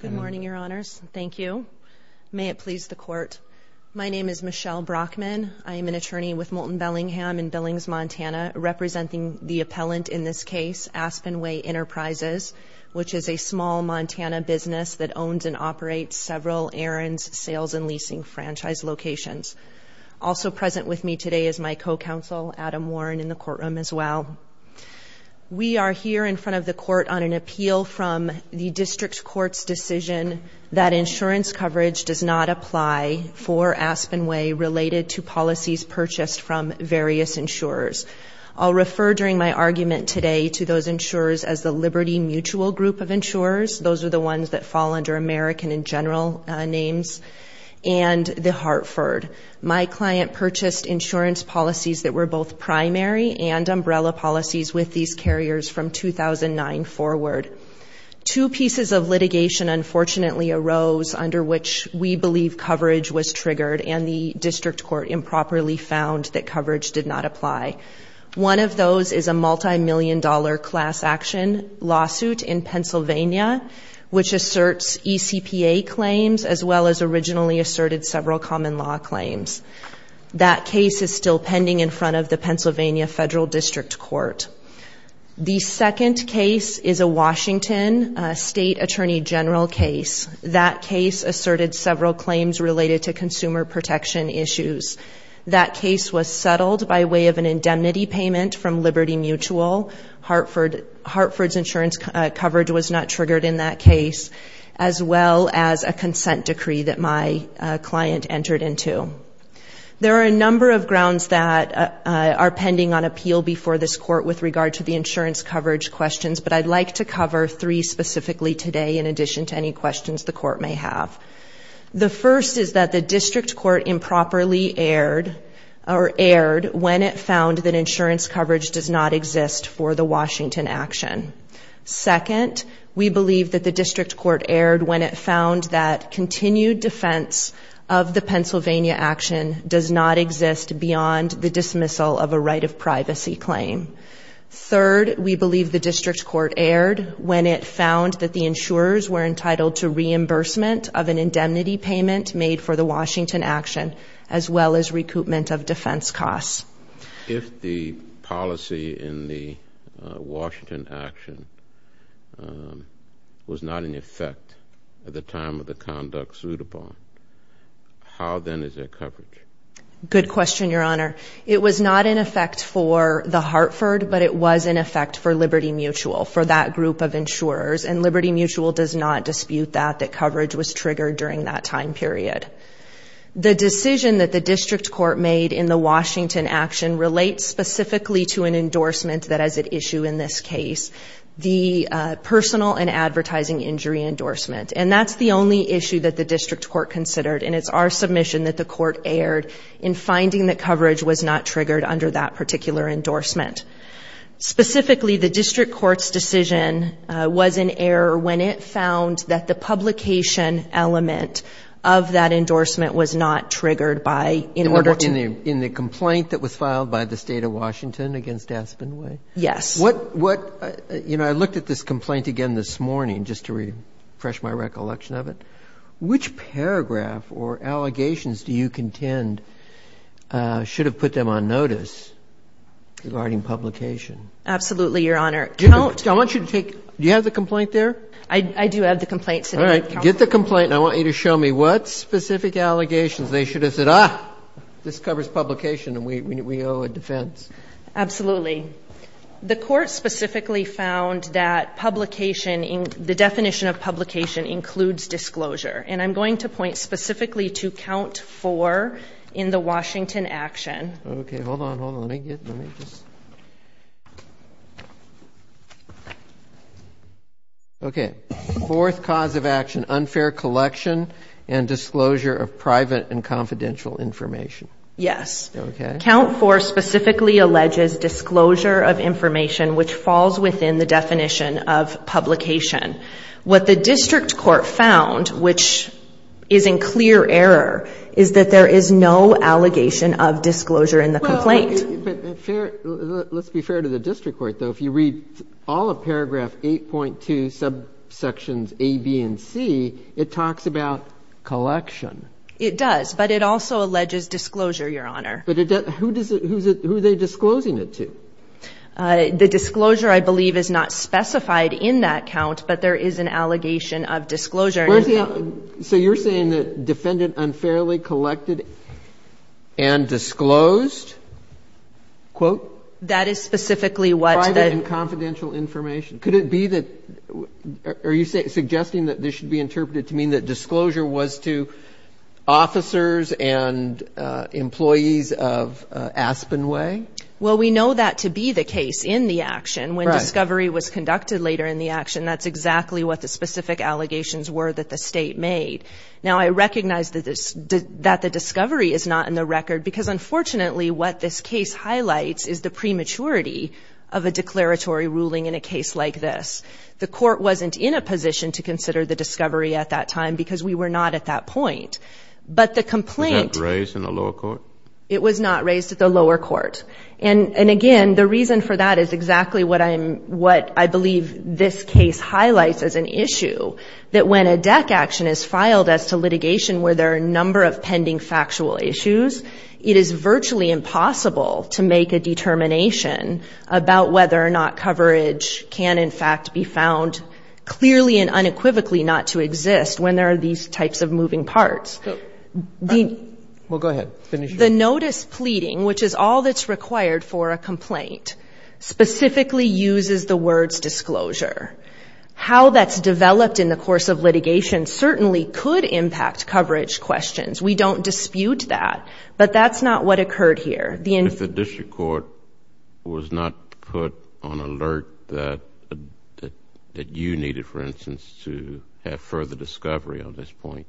Good morning, Your Honors. Thank you. May it please the Court. My name is Michelle Brockman. I am an attorney with Moulton Bellingham in Billings, Montana, representing the appellant in this case, Aspenway Enterprises, which is a small Montana business that owns and operates several errands, sales, and leasing franchise locations. Also present with me today is my co-counsel, Adam Warren, in the courtroom as well. We are here in front of the Court on an appeal from the District Court's decision that insurance coverage does not apply for Aspenway related to policies purchased from various insurers. I'll refer during my argument today to those insurers as the Liberty Mutual Group of insurers. Those are the ones that fall under American in general names, and the Hartford. My client purchased insurance policies that were both primary and umbrella policies with these carriers from 2009 forward. Two pieces of litigation, unfortunately, arose under which we believe coverage was triggered and the District Court improperly found that coverage did not apply. One of those is a multimillion-dollar class action lawsuit in Pennsylvania, which asserts ECPA claims as well as originally asserted several common law claims. That case is still pending in front of the Pennsylvania Federal District Court. The second case is a Washington State Attorney General case. That case asserted several claims related to consumer protection issues. That case was settled by way of an indemnity payment from Liberty Mutual. Hartford's insurance coverage was not triggered in that case, as well as a consent decree that my client entered into. There are a number of grounds that are pending on appeal before this Court with regard to the insurance coverage questions, but I'd like to cover three specifically today in addition to any questions the Court may have. The first is that the District Court improperly erred when it found that insurance coverage does not exist for the Washington action. Second, we believe that the District Court erred when it found that continued defense of the Pennsylvania action does not exist beyond the dismissal of a right of privacy claim. Third, we believe the District Court erred when it found that the insurers were entitled to reimbursement of an indemnity payment made for the Washington action, as well as recoupment of defense costs. If the policy in the Washington action was not in effect at the time of the conduct sued upon, how then is their coverage? Good question, Your Honor. It was not in effect for the Hartford, but it was in effect for Liberty Mutual, for that group of insurers, and Liberty Mutual does not dispute that, that coverage was triggered during that time period. The decision that the District Court made in the Washington action relates specifically to an endorsement that has an issue in this case, the personal and advertising injury endorsement, and that's the only issue that the District Court considered, and it's our submission that the Court erred in finding that coverage was not triggered under that particular endorsement. Specifically, the District Court's decision was in error when it found that the publication element of that endorsement was not triggered by, in order to ---- In the complaint that was filed by the State of Washington against Aspen Way? Yes. What, you know, I looked at this complaint again this morning just to refresh my recollection of it. Which paragraph or allegations do you contend should have put them on notice regarding publication? Absolutely, Your Honor. Do you have the complaint there? I do have the complaint. All right. Get the complaint, and I want you to show me what specific allegations they should have said, ah, this covers publication and we owe a defense. Absolutely. The Court specifically found that publication, the definition of publication includes disclosure, and I'm going to point specifically to count four in the Washington action. Okay. Hold on, hold on. Let me get, let me just. Okay. Fourth cause of action, unfair collection and disclosure of private and confidential information. Yes. Okay. Count four specifically alleges disclosure of information which falls within the definition of publication. What the district court found, which is in clear error, is that there is no allegation of disclosure in the complaint. Well, but fair, let's be fair to the district court, though. If you read all of paragraph 8.2, subsections A, B, and C, it talks about collection. It does, but it also alleges disclosure, Your Honor. But who does it, who are they disclosing it to? The disclosure, I believe, is not specified in that count, but there is an allegation of disclosure. So you're saying that defendant unfairly collected and disclosed, quote? That is specifically what the. Private and confidential information. Could it be that, are you suggesting that this should be interpreted to mean that disclosure was to officers and employees of Aspenway? Well, we know that to be the case in the action. Right. When discovery was conducted later in the action, that's exactly what the specific allegations were that the State made. Now, I recognize that the discovery is not in the record, because unfortunately, what this case highlights is the prematurity of a declaratory ruling in a case like this. The court wasn't in a position to consider the discovery at that time, because we were not at that point. But the complaint. Was that raised in the lower court? It was not raised at the lower court. And again, the reason for that is exactly what I'm, what I believe this case highlights as an issue, that when a deck action is filed as to litigation where there are a number of pending factual issues, it is virtually impossible to make a determination about whether or not coverage can, in fact, be found clearly and unequivocally not to exist when there are these types of moving parts. Well, go ahead. Finish. The notice pleading, which is all that's required for a complaint, specifically uses the words disclosure. How that's developed in the course of litigation certainly could impact coverage questions. We don't dispute that, but that's not what occurred here. If the district court was not put on alert that you needed, for instance, to have further discovery on this point.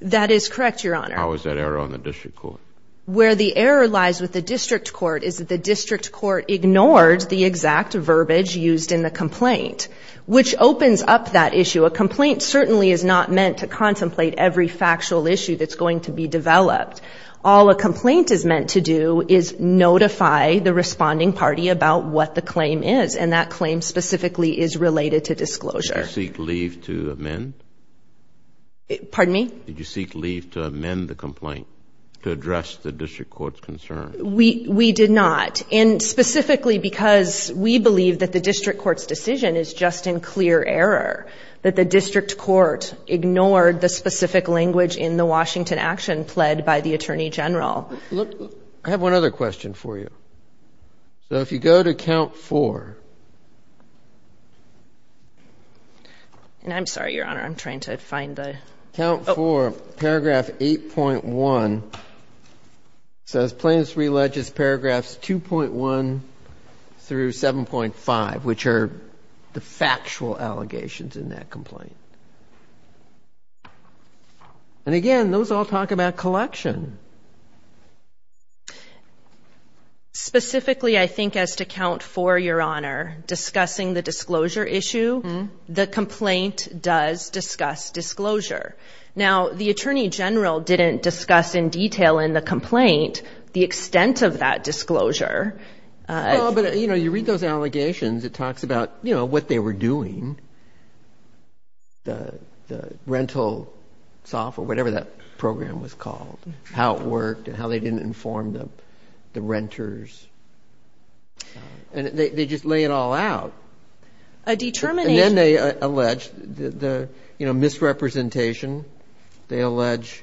That is correct, Your Honor. How is that error on the district court? Where the error lies with the district court is that the district court ignored the exact verbiage used in the complaint, which opens up that issue. A complaint certainly is not meant to contemplate every factual issue that's going to be developed. All a complaint is meant to do is notify the responding party about what the claim is, and that claim specifically is related to disclosure. Did you seek leave to amend? Pardon me? Did you seek leave to amend the complaint to address the district court's concern? We did not. And specifically because we believe that the district court's decision is just in clear error, that the district court ignored the specific language in the Washington action pled by the Attorney General. I have one other question for you. So if you go to count four. I'm sorry, Your Honor. I'm trying to find the... Count four, paragraph 8.1. It says plaintiffs re-alleges paragraphs 2.1 through 7.5, which are the factual allegations in that complaint. And again, those all talk about collection. Specifically, I think as to count four, Your Honor, discussing the disclosure issue, the complaint does discuss disclosure. Now, the Attorney General didn't discuss in detail in the complaint the extent of that disclosure. Well, but, you know, you read those allegations, it talks about, you know, what they were doing, the rental software, whatever that program was called, how it worked and how they didn't inform the renters. And they just lay it all out. A determination... And then they allege the, you know, misrepresentation. They allege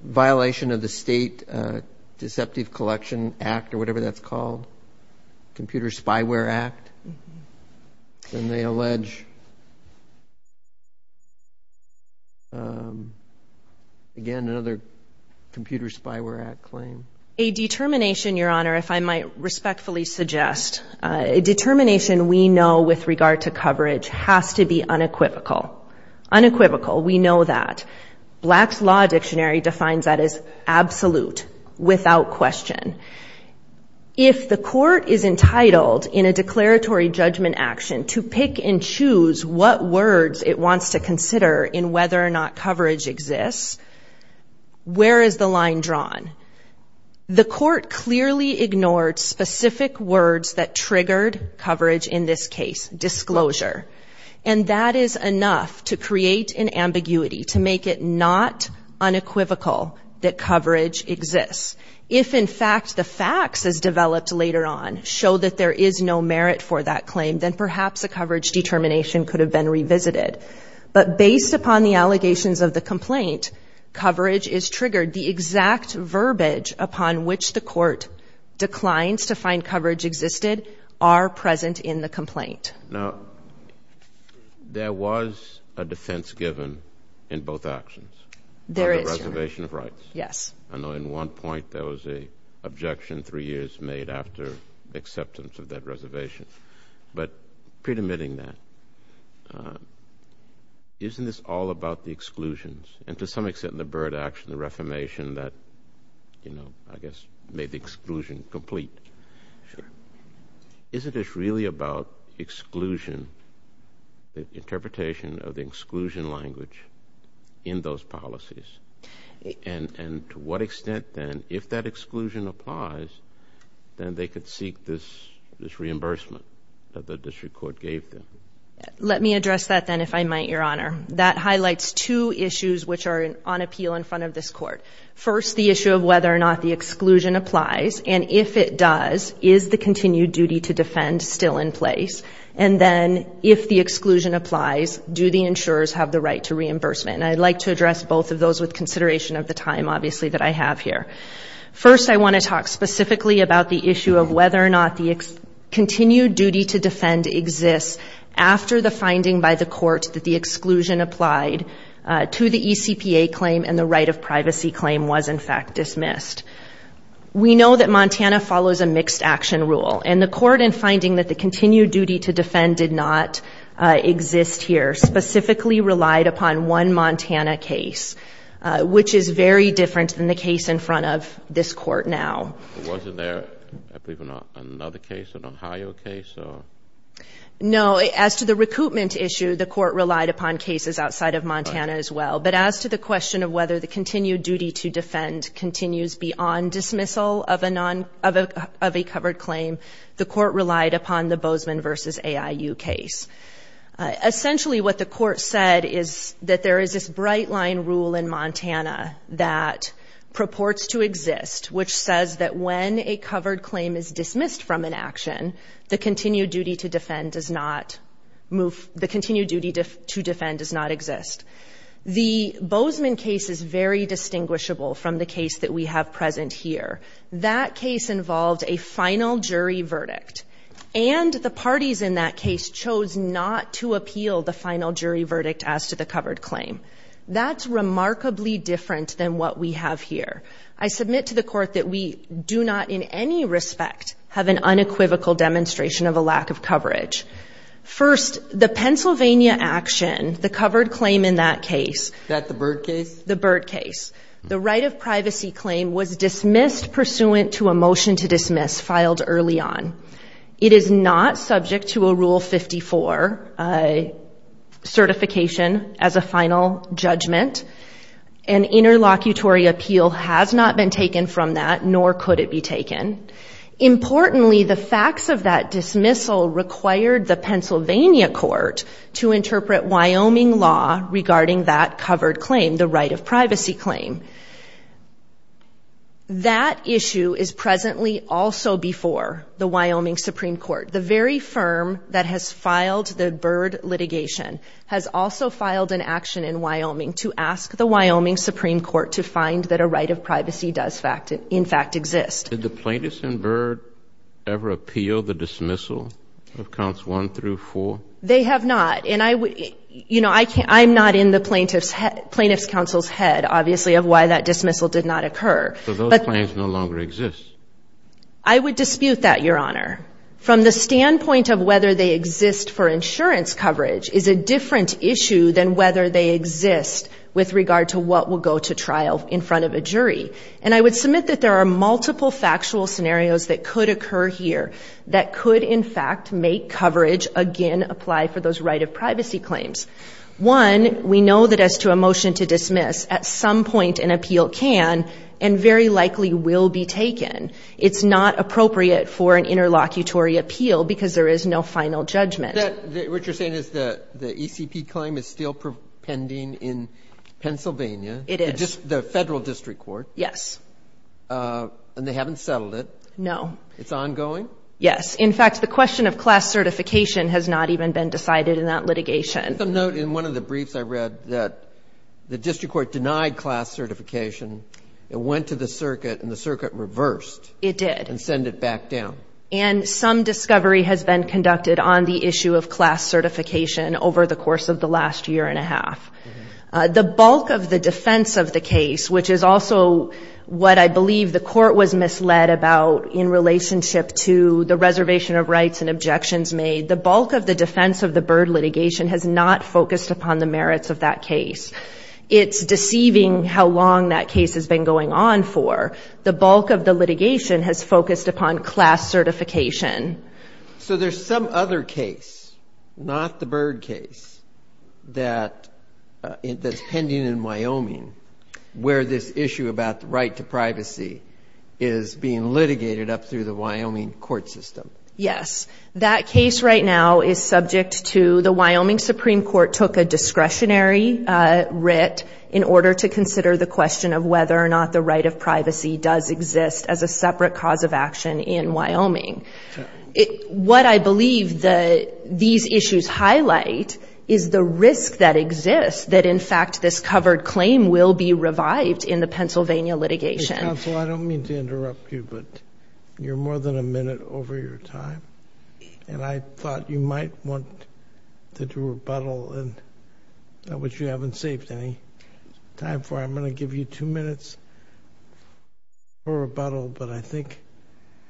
violation of the State Deceptive Collection Act or whatever that's called, Computer Spyware Act. And they allege, again, another Computer Spyware Act claim. A determination, Your Honor, if I might respectfully suggest. A determination we know with regard to coverage has to be unequivocal. Unequivocal, we know that. Black's Law Dictionary defines that as absolute, without question. If the court is entitled in a declaratory judgment action to pick and choose what words it wants to consider in whether or not coverage exists, where is the line drawn? The court clearly ignored specific words that triggered coverage in this case, disclosure. And that is enough to create an ambiguity, to make it not unequivocal that coverage exists. If, in fact, the facts as developed later on show that there is no merit for that claim, then perhaps a coverage determination could have been revisited. But based upon the allegations of the complaint, coverage is triggered. The exact verbiage upon which the court declines to find coverage existed are present in the complaint. Now, there was a defense given in both actions. There is, Your Honor. On the reservation of rights. Yes. I know in one point there was an objection three years made after the acceptance of that reservation. But predominating that, isn't this all about the exclusions? And to some extent in the Byrd action, the reformation that, you know, I guess made the exclusion complete. Sure. Isn't this really about exclusion, the interpretation of the exclusion language in those policies? And to what extent, then, if that exclusion applies, then they could seek this reimbursement that the district court gave them? Let me address that, then, if I might, Your Honor. That highlights two issues which are on appeal in front of this Court. First, the issue of whether or not the exclusion applies. And if it does, is the continued duty to defend still in place? And then, if the exclusion applies, do the insurers have the right to reimbursement? And I'd like to address both of those with consideration of the time, obviously, that I have here. First, I want to talk specifically about the issue of whether or not the continued duty to defend exists after the finding by the Court that the exclusion applied to the ECPA claim and the right of privacy claim was, in fact, dismissed. We know that Montana follows a mixed action rule. And the Court, in finding that the continued duty to defend did not exist here, specifically relied upon one Montana case, which is very different than the case in front of this Court now. Wasn't there, I believe, another case, an Ohio case? No. As to the recoupment issue, the Court relied upon cases outside of Montana as well. But as to the question of whether the continued duty to defend continues beyond dismissal of a covered claim, the Court relied upon the Bozeman v. AIU case. Essentially, what the Court said is that there is this bright-line rule in Montana that purports to exist, which says that when a covered claim is dismissed from an action, the continued duty to defend does not exist. The Bozeman case is very distinguishable from the case that we have present here. That case involved a final jury verdict. And the parties in that case chose not to appeal the final jury verdict as to the covered claim. That's remarkably different than what we have here. I submit to the Court that we do not in any respect have an unequivocal demonstration of a lack of coverage. First, the Pennsylvania action, the covered claim in that case... Is that the Byrd case? The Byrd case. The right of privacy claim was dismissed pursuant to a motion to dismiss filed early on. It is not subject to a Rule 54 certification as a final judgment. An interlocutory appeal has not been taken from that, nor could it be taken. Importantly, the facts of that dismissal required the Pennsylvania Court to interpret Wyoming law regarding that covered claim, the right of privacy claim. That issue is presently also before the Wyoming Supreme Court. The very firm that has filed the Byrd litigation has also filed an action in Wyoming to ask the Wyoming Supreme Court to find that a right of privacy does in fact exist. Did the plaintiffs in Byrd ever appeal the dismissal of counts one through four? They have not. I'm not in the plaintiff's counsel's head, obviously, of why that dismissal did not occur. So those claims no longer exist? I would dispute that, Your Honor. From the standpoint of whether they exist for insurance coverage is a different issue than whether they exist with regard to what will go to trial in front of a jury. And I would submit that there are multiple factual scenarios that could occur here that could in fact make coverage again apply for those right of privacy claims. One, we know that as to a motion to dismiss, at some point an appeal can and very likely will be taken. It's not appropriate for an interlocutory appeal because there is no final judgment. What you're saying is the ECP claim is still pending in Pennsylvania? It is. The federal district court? Yes. And they haven't settled it? No. It's ongoing? Yes. In fact, the question of class certification has not even been decided in that litigation. I'll note in one of the briefs I read that the district court denied class certification. It went to the circuit and the circuit reversed. It did. And sent it back down. And some discovery has been conducted on the issue of class certification over the course of the last year and a half. The bulk of the defense of the case, which is also what I believe the court was misled about in relationship to the reservation of rights and objections made, the bulk of the defense of the Byrd litigation has not focused upon the merits of that case. It's deceiving how long that case has been going on for. The bulk of the litigation has focused upon class certification. So there's some other case, not the Byrd case, that's pending in Wyoming where this issue about the right to privacy is being litigated up through the Wyoming court system. Yes. That case right now is subject to the Wyoming Supreme Court took a discretionary writ in order to consider the question of whether or not the right of privacy does exist as a separate cause of action in Wyoming. What I believe these issues highlight is the risk that exists that in fact this covered claim will be revived in the Pennsylvania litigation. Counsel, I don't mean to interrupt you, but you're more than a minute over your time. And I thought you might want to do a rebuttal, which you haven't saved any time for. I'm going to give you two minutes for rebuttal, but I think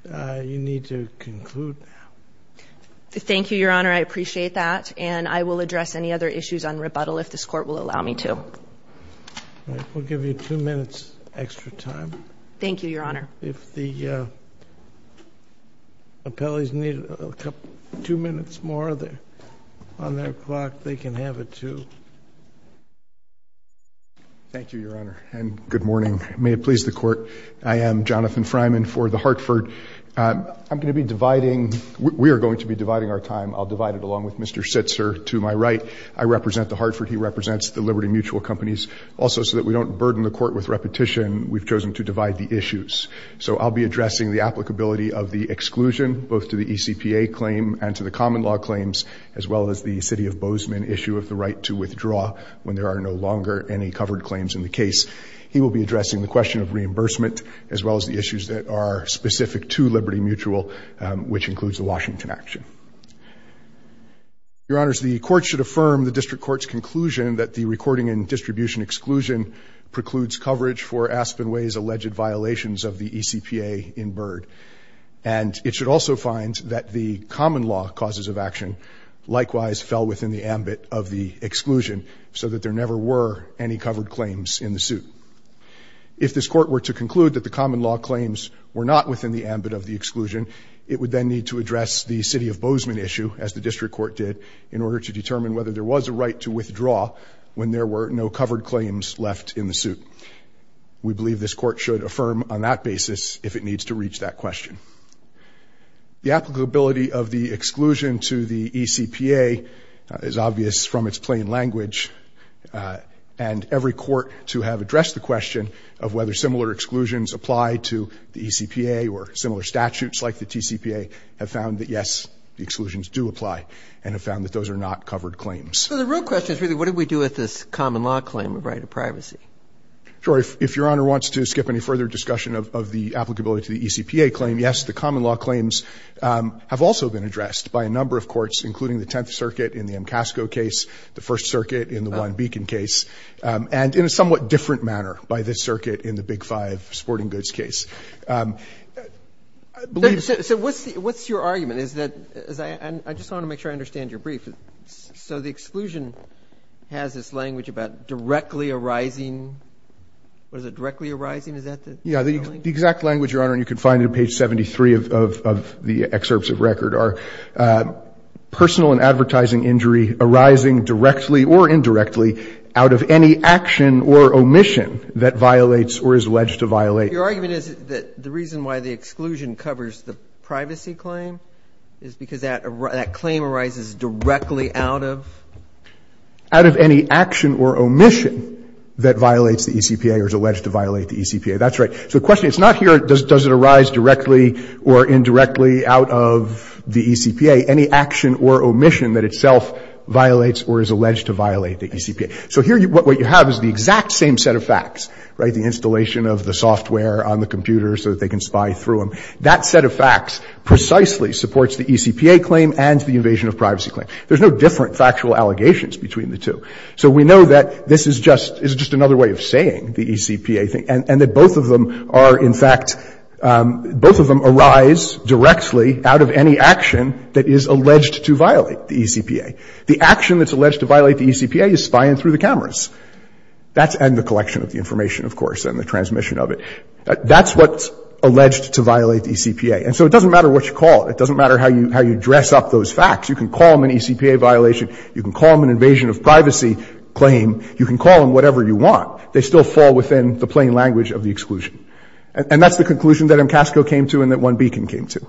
you need to conclude now. Thank you, Your Honor. I appreciate that. And I will address any other issues on rebuttal if this court will allow me to. All right. We'll give you two minutes extra time. Thank you, Your Honor. If the appellees need two minutes more on their clock, they can have it, too. Thank you, Your Honor. And good morning. May it please the Court. I am Jonathan Fryman for the Hartford. I'm going to be dividing — we are going to be dividing our time. I'll divide it along with Mr. Sitzer to my right. I represent the Hartford. He represents the Liberty Mutual Companies. Also, so that we don't burden the Court with repetition, we've chosen to divide the issues. So I'll be addressing the applicability of the exclusion, both to the ECPA claim and to the common law claims, as well as the City of Bozeman issue of the right to withdraw when there are no longer any covered claims in the case. He will be addressing the question of reimbursement, as well as the issues that are specific to Liberty Mutual, which includes the Washington action. Your Honors, the Court should affirm the District Court's conclusion that the recording and distribution exclusion precludes coverage and it should also find that the common law causes of action likewise fell within the ambit of the exclusion so that there never were any covered claims in the suit. If this Court were to conclude that the common law claims were not within the ambit of the exclusion, it would then need to address the City of Bozeman issue, as the District Court did, in order to determine whether there was a right to withdraw when there were no covered claims left in the suit. We believe this Court should affirm on that basis if it needs to reach that question. The applicability of the exclusion to the ECPA is obvious from its plain language, and every court to have addressed the question of whether similar exclusions apply to the ECPA or similar statutes like the TCPA have found that, yes, the exclusions do apply and have found that those are not covered claims. So the real question is really what did we do with this common law claim of right of privacy? Sure. If Your Honor wants to skip any further discussion of the applicability to the ECPA claim, yes, the common law claims have also been addressed by a number of courts, including the Tenth Circuit in the MCASCO case, the First Circuit in the One Beacon case, and in a somewhat different manner by this circuit in the Big Five sporting goods case. So what's your argument? I just want to make sure I understand your brief. So the exclusion has this language about directly arising. What is it? Directly arising? Is that the language? Yeah. The exact language, Your Honor, and you can find it on page 73 of the excerpts of record, are personal and advertising injury arising directly or indirectly out of any action or omission that violates or is alleged to violate. Your argument is that the reason why the exclusion covers the privacy claim is because that claim arises directly out of? Out of any action or omission that violates the ECPA or is alleged to violate the ECPA. That's right. So the question is not here does it arise directly or indirectly out of the ECPA, any action or omission that itself violates or is alleged to violate the ECPA. So here what you have is the exact same set of facts, right, the installation of the software on the computer so that they can spy through them. That set of facts precisely supports the ECPA claim and the invasion of privacy claim. There's no different factual allegations between the two. So we know that this is just, is just another way of saying the ECPA thing and that both of them are in fact, both of them arise directly out of any action that is alleged to violate the ECPA. The action that's alleged to violate the ECPA is spying through the cameras. That's, and the collection of the information, of course, and the transmission of the information. That's what's alleged to violate the ECPA. And so it doesn't matter what you call it. It doesn't matter how you dress up those facts. You can call them an ECPA violation. You can call them an invasion of privacy claim. You can call them whatever you want. They still fall within the plain language of the exclusion. And that's the conclusion that MCASCO came to and that OneBeacon came to.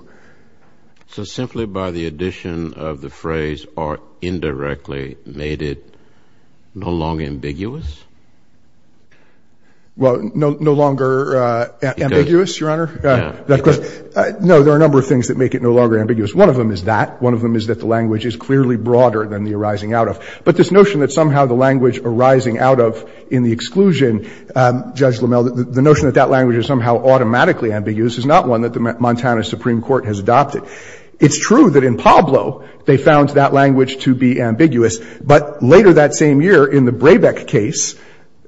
So simply by the addition of the phrase or indirectly made it no longer ambiguous? Well, no longer ambiguous, Your Honor. No, there are a number of things that make it no longer ambiguous. One of them is that. One of them is that the language is clearly broader than the arising out of. But this notion that somehow the language arising out of in the exclusion, Judge LaMelle, the notion that that language is somehow automatically ambiguous is not one that the Montana Supreme Court has adopted. It's true that in Pablo they found that language to be ambiguous. But later that same year in the Brabeck case,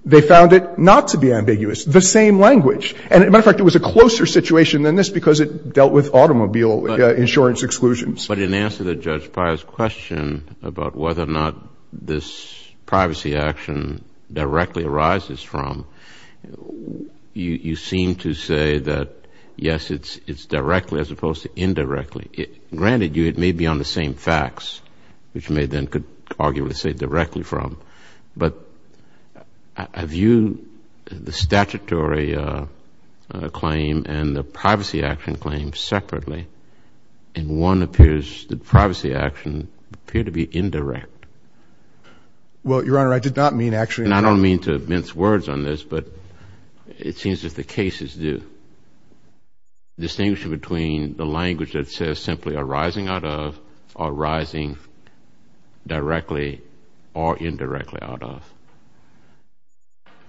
they found it not to be ambiguous. The same language. And, as a matter of fact, it was a closer situation than this because it dealt with automobile insurance exclusions. But in answer to Judge Pye's question about whether or not this privacy action directly arises from, you seem to say that, yes, it's directly as opposed to indirectly. Granted, it may be on the same facts, which may then could arguably say directly from. But I view the statutory claim and the privacy action claim separately, and one appears that privacy action appear to be indirect. Well, Your Honor, I did not mean actually. And I don't mean to mince words on this, but it seems that the cases do. The distinction between the language that says simply arising out of, arising directly, or indirectly out of.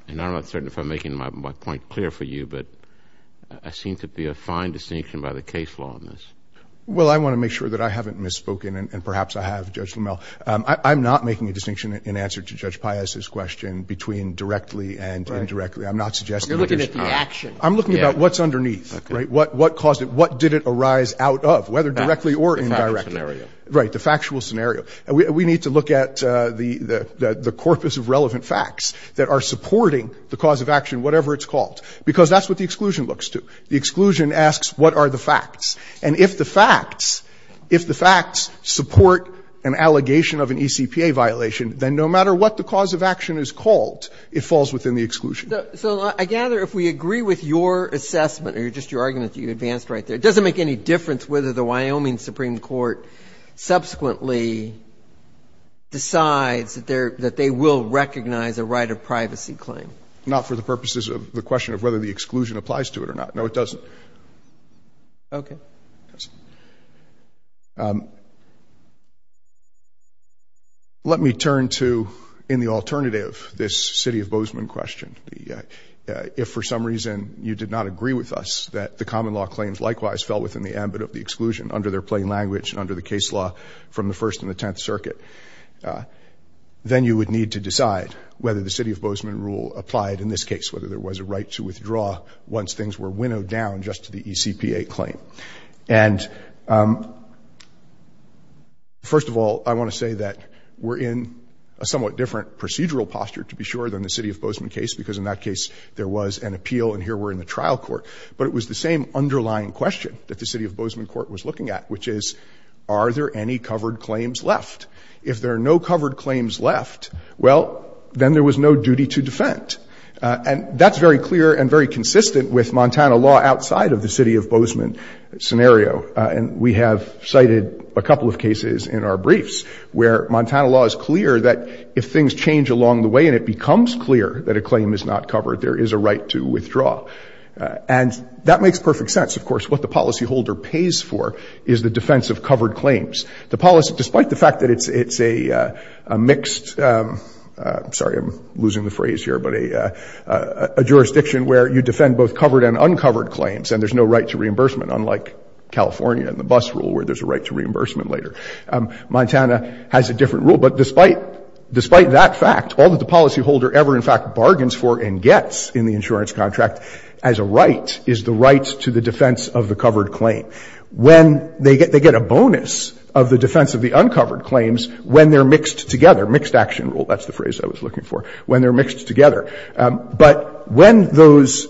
And I'm not certain if I'm making my point clear for you, but there seems to be a fine distinction by the case law on this. Well, I want to make sure that I haven't misspoken, and perhaps I have, Judge LaMelle. I'm not making a distinction in answer to Judge Pye's question between directly and indirectly. I'm not suggesting that there's… You're looking at the action. I'm looking at what's underneath, right? Okay. What caused it? What did it arise out of, whether directly or indirectly? The factual scenario. Right, the factual scenario. We need to look at the corpus of relevant facts that are supporting the cause of action, whatever it's called, because that's what the exclusion looks to. The exclusion asks, what are the facts? And if the facts support an allegation of an ECPA violation, then no matter what the cause of action is called, it falls within the exclusion. So I gather if we agree with your assessment or just your argument that you advanced right there, it doesn't make any difference whether the Wyoming Supreme Court subsequently decides that they will recognize a right of privacy claim. Not for the purposes of the question of whether the exclusion applies to it or not. No, it doesn't. Okay. It doesn't. Let me turn to, in the alternative, this City of Bozeman question. If for some reason you did not agree with us that the common law claims likewise fell within the ambit of the exclusion, under their plain language and under the case law from the First and the Tenth Circuit, then you would need to decide whether the City of Bozeman rule applied in this case, whether there was a right to withdraw once things were winnowed down just to the ECPA claim. And first of all, I want to say that we're in a somewhat different procedural posture, to be sure, than the City of Bozeman case because in that case there was an appeal and here we're in the trial court. But it was the same underlying question that the City of Bozeman court was looking at, which is are there any covered claims left? If there are no covered claims left, well, then there was no duty to defend. And that's very clear and very consistent with Montana law outside of the City of Bozeman scenario. And we have cited a couple of cases in our briefs where Montana law is clear that if things change along the way and it becomes clear that a claim is not covered, there is a right to withdraw. And that makes perfect sense. Of course, what the policyholder pays for is the defense of covered claims. The policy, despite the fact that it's a mixed, sorry, I'm losing the phrase here, but a jurisdiction where you defend both covered and uncovered claims and there's no right to reimbursement, unlike California and the bus rule where there's a right to reimbursement later. Montana has a different rule. But despite that fact, all that the policyholder ever in fact bargains for and gets in the insurance contract as a right is the right to the defense of the covered claim. When they get a bonus of the defense of the uncovered claims when they're mixed together, mixed action rule, that's the phrase I was looking for, when they're mixed together. But when those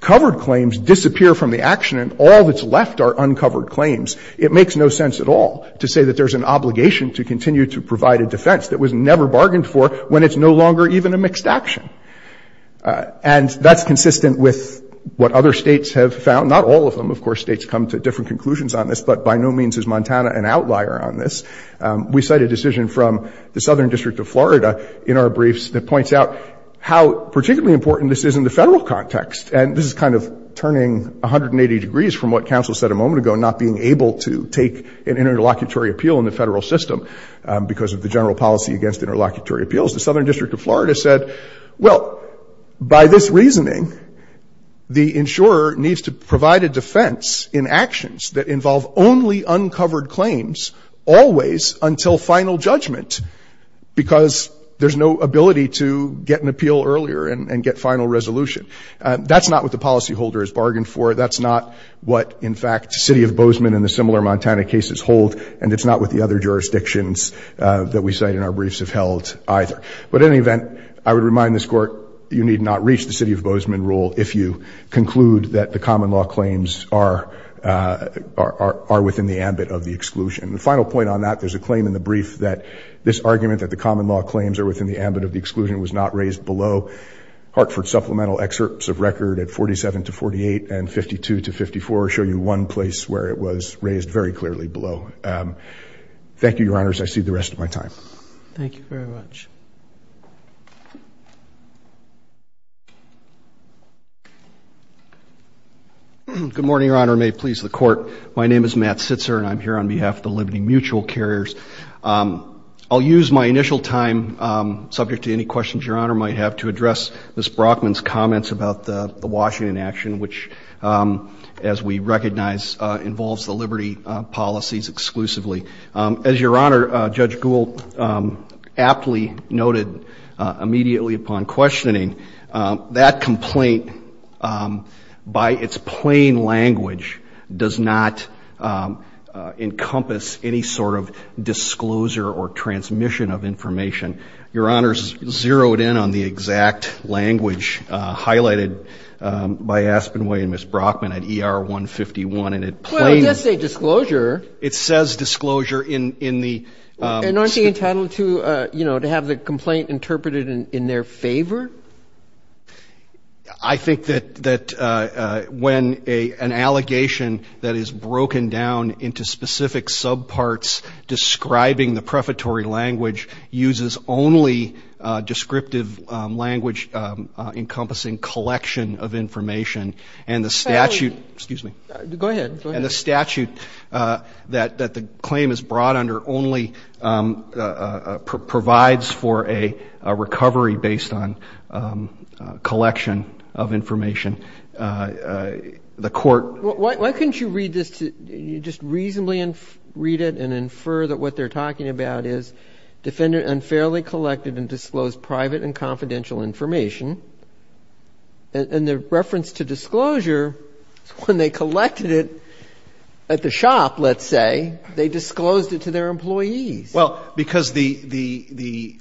covered claims disappear from the action and all that's left are uncovered claims, it makes no sense at all to say that there's an obligation to continue to provide a defense that was never bargained for when it's no longer even a mixed action. And that's consistent with what other States have found. Not all of them, of course. States come to different conclusions on this, but by no means is Montana an outlier on this. We cite a decision from the Southern District of Florida in our briefs that points out how particularly important this is in the federal context. And this is kind of turning 180 degrees from what counsel said a moment ago, not being able to take an interlocutory appeal in the federal system because of the general policy against interlocutory appeals. The Southern District of Florida said, well, by this reasoning, the insurer needs to provide a defense in actions that involve only uncovered claims always until final judgment because there's no ability to get an appeal earlier and get final resolution. That's not what the policyholder has bargained for. That's not what, in fact, the City of Bozeman and the similar Montana cases hold, and it's not what the other jurisdictions that we cite in our briefs have held either. But in any event, I would remind this Court, you need not reach the City of Bozeman rule if you conclude that the common law claims are within the ambit of the exclusion. The final point on that, there's a claim in the brief that this argument that the common law claims are within the ambit of the exclusion was not raised below. Hartford supplemental excerpts of record at 47 to 48 and 52 to 54 show you one place where it was raised very clearly below. Thank you, Your Honors. I cede the rest of my time. Thank you very much. Good morning, Your Honor. May it please the Court. My name is Matt Sitzer, and I'm here on behalf of the Liberty Mutual carriers. I'll use my initial time, subject to any questions Your Honor might have, to address Ms. Brockman's comments about the Washington action, which, as we recognize, involves the Liberty policies exclusively. As Your Honor, Judge Gould aptly noted immediately upon questioning, that complaint by its plain language does not encompass any sort of disclosure or transmission of information. Your Honor's zeroed in on the exact language highlighted by Aspenway and Ms. Brockman at ER 151, and it plainly... Well, it does say disclosure. It says disclosure in the... And aren't they entitled to, you know, to have the complaint interpreted in their favor? I think that when an allegation that is broken down into specific subparts describing the prefatory language uses only descriptive language encompassing collection of information, and the statute... Excuse me. Go ahead. Go ahead. And the statute that the claim is brought under only provides for a recovery based on collection of information. The Court... Why couldn't you read this to, just reasonably read it and infer that what they're talking about is defendant unfairly collected and disclosed private and confidential information, and the reference to disclosure is when they collected it at the shop, let's say, they disclosed it to their employees. Well, because the,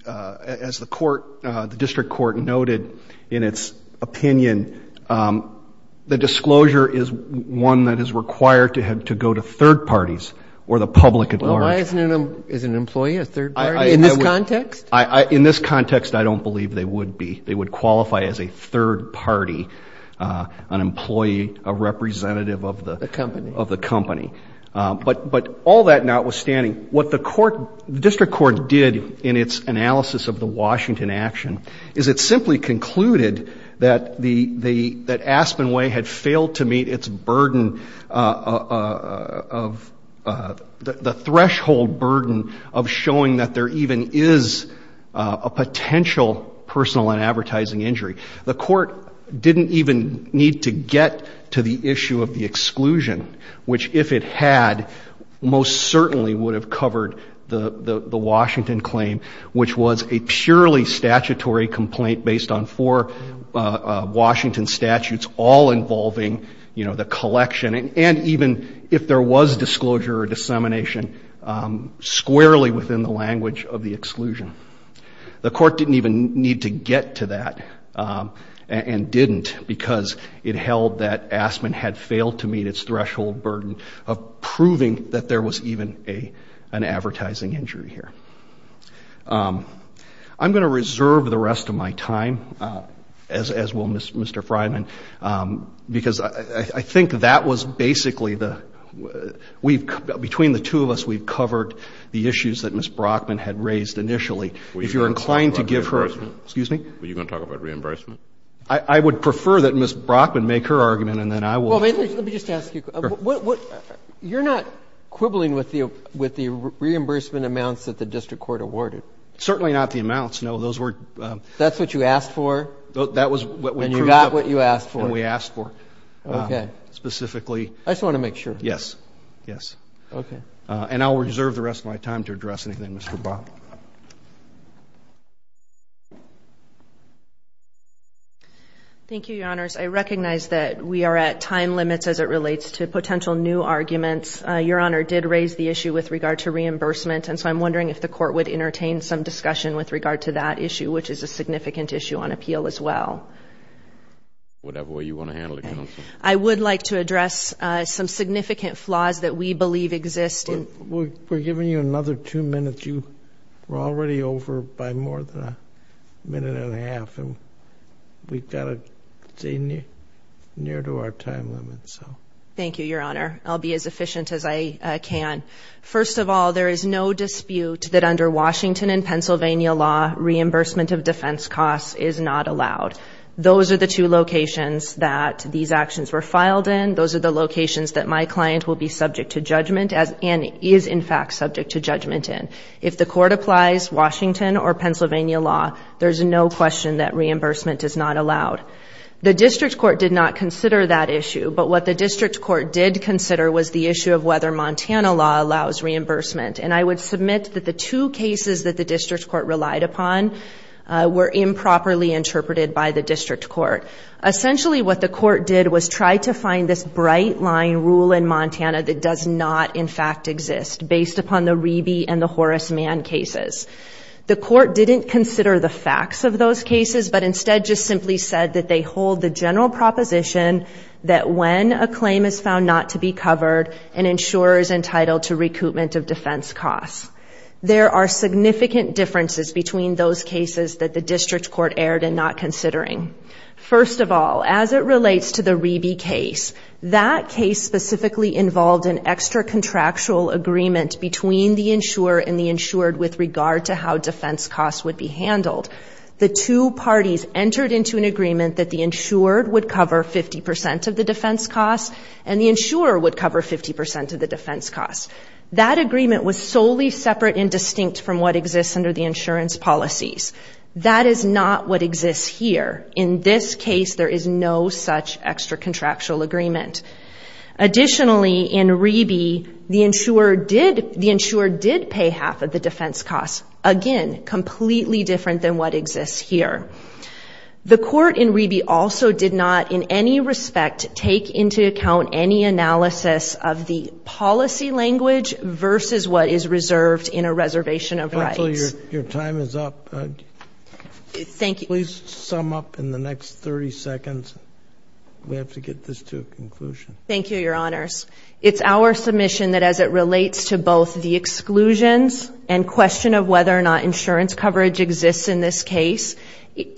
as the court, the district court noted in its opinion, the disclosure is one that is required to go to third parties or the public at large. Well, why isn't an employee a third party in this context? In this context, I don't believe they would be. They would qualify as a third party, an employee, a representative of the... Of the company. Of the company. But all that notwithstanding, what the court, the district court did in its analysis of the Washington action is it simply concluded that the, that Aspen Way had failed to meet its burden of, the threshold burden of showing that there even is a third party in the case, a potential personal and advertising injury. The court didn't even need to get to the issue of the exclusion, which if it had, most certainly would have covered the Washington claim, which was a purely statutory complaint based on four Washington statutes, all involving, you know, the collection and even if there was disclosure or dissemination, squarely within the language of the exclusion. The court didn't even need to get to that and didn't because it held that Aspen had failed to meet its threshold burden of proving that there was even a, an advertising injury here. I'm going to reserve the rest of my time, as will Mr. Fryman, because I think that was basically the, we've, between the two of us, we've covered the issues that Ms. Brockman raised initially. If you're inclined to give her. Excuse me? Were you going to talk about reimbursement? I would prefer that Ms. Brockman make her argument and then I will. Well, let me just ask you. You're not quibbling with the, with the reimbursement amounts that the district court awarded? Certainly not the amounts. No, those were. That's what you asked for? That was what we proved. And you got what you asked for. And we asked for. Okay. Specifically. I just want to make sure. Yes. Yes. Okay. And I'll reserve the rest of my time to address anything, Mr. Bob. Thank you, your honors. I recognize that we are at time limits as it relates to potential new arguments. Your honor did raise the issue with regard to reimbursement. And so I'm wondering if the court would entertain some discussion with regard to that issue, which is a significant issue on appeal as well. Whatever way you want to handle it, counsel. I would like to address some significant flaws that we believe exist. We're giving you another two minutes. You were already over by more than a minute and a half. And we've got to stay near to our time limit. So. Thank you, your honor. I'll be as efficient as I can. First of all, there is no dispute that under Washington and Pennsylvania law, reimbursement of defense costs is not allowed. Those are the two locations that these actions were filed in. Those are the locations that my client will be subject to judgment and is, in fact, subject to judgment in. If the court applies Washington or Pennsylvania law, there's no question that reimbursement is not allowed. The district court did not consider that issue. But what the district court did consider was the issue of whether Montana law allows reimbursement. And I would submit that the two cases that the district court relied upon were improperly interpreted by the district court. Essentially, what the court did was try to find this bright line rule in Montana that does not, in fact, exist, based upon the Reby and the Horace Mann cases. The court didn't consider the facts of those cases, but instead just simply said that they hold the general proposition that when a claim is found not to be covered, an insurer is entitled to recoupment of defense costs. There are significant differences between those cases that the district court erred in not considering. First of all, as it relates to the Reby case, that case specifically involved an extra-contractual agreement between the insurer and the insured with regard to how defense costs would be handled. The two parties entered into an agreement that the insured would cover 50 percent of the defense costs and the insurer would cover 50 percent of the defense costs. That agreement was solely separate and distinct from what exists under the insurance policies. That is not what exists here. In this case, there is no such extra-contractual agreement. Additionally, in Reby, the insurer did pay half of the defense costs, again, completely different than what exists here. The court in Reby also did not, in any respect, take into account any analysis of the policy language versus what is reserved in a reservation of rights. Your time is up. Thank you. Please sum up in the next 30 seconds. We have to get this to a conclusion. Thank you, Your Honors. It's our submission that as it relates to both the exclusions and question of whether or not insurance coverage exists in this case,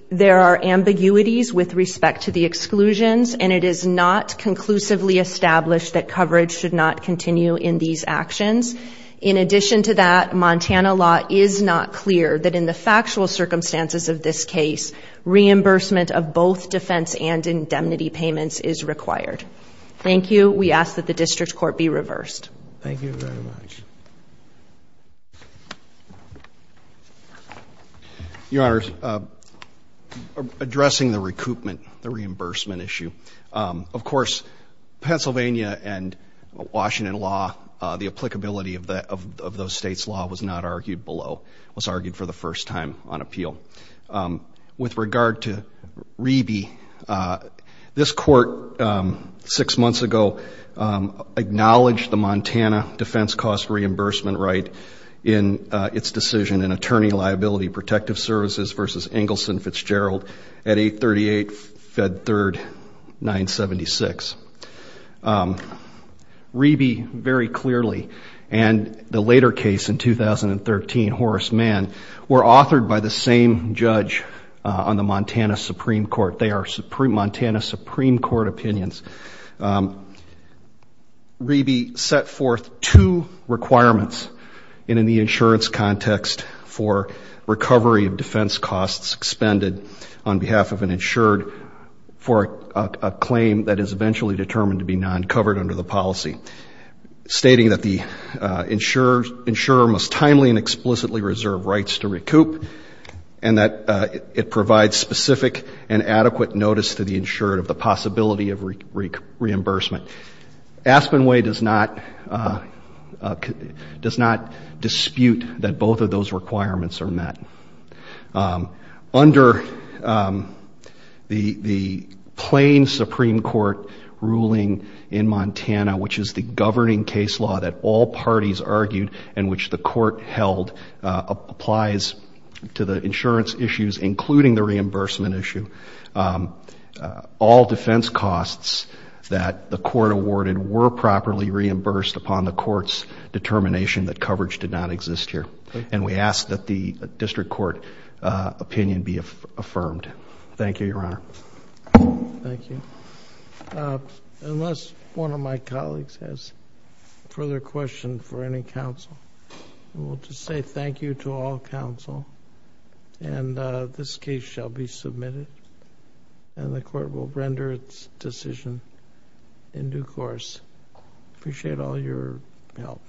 there are ambiguities with respect to the exclusions, and it is not conclusively established that coverage should not continue in these actions. In addition to that, Montana law is not clear that in the factual circumstances of this case, reimbursement of both defense and indemnity payments is required. Thank you. We ask that the district court be reversed. Thank you very much. Your Honors, addressing the recoupment, the reimbursement issue, of course Pennsylvania and Washington law, the applicability of those states' law was not argued below, was argued for the first time on appeal. With regard to Reby, this court six months ago acknowledged the Montana defense cost reimbursement right in its decision in attorney liability protective services versus Engelson Fitzgerald at 838 Fed Third 976. Reby very clearly and the later case in 2013, Horace Mann, were authored by the same judge on the Montana Supreme Court. They are Montana Supreme Court opinions. Reby set forth two requirements, and in the insurance context for recovery of defense costs expended on behalf of an insured for a claim that is eventually determined to be non-covered under the policy, stating that the insurer must timely and explicitly reserve rights to recoup, and that it provides specific and adequate notice to the insured of the possibility of reimbursement. Aspenway does not dispute that both of those requirements are met. Under the plain Supreme Court ruling in Montana, which is the governing case law that all parties argued and which the court held applies to the insurance issues, including the reimbursement issue, all defense costs that the court awarded were properly reimbursed upon the court's determination that coverage did not exist here. And we ask that the district court opinion be affirmed. Thank you, Your Honor. Thank you. Unless one of my colleagues has further questions for any counsel, I want to say thank you to all counsel, and this case shall be submitted, and the court will render its decision in due course. Appreciate all your help.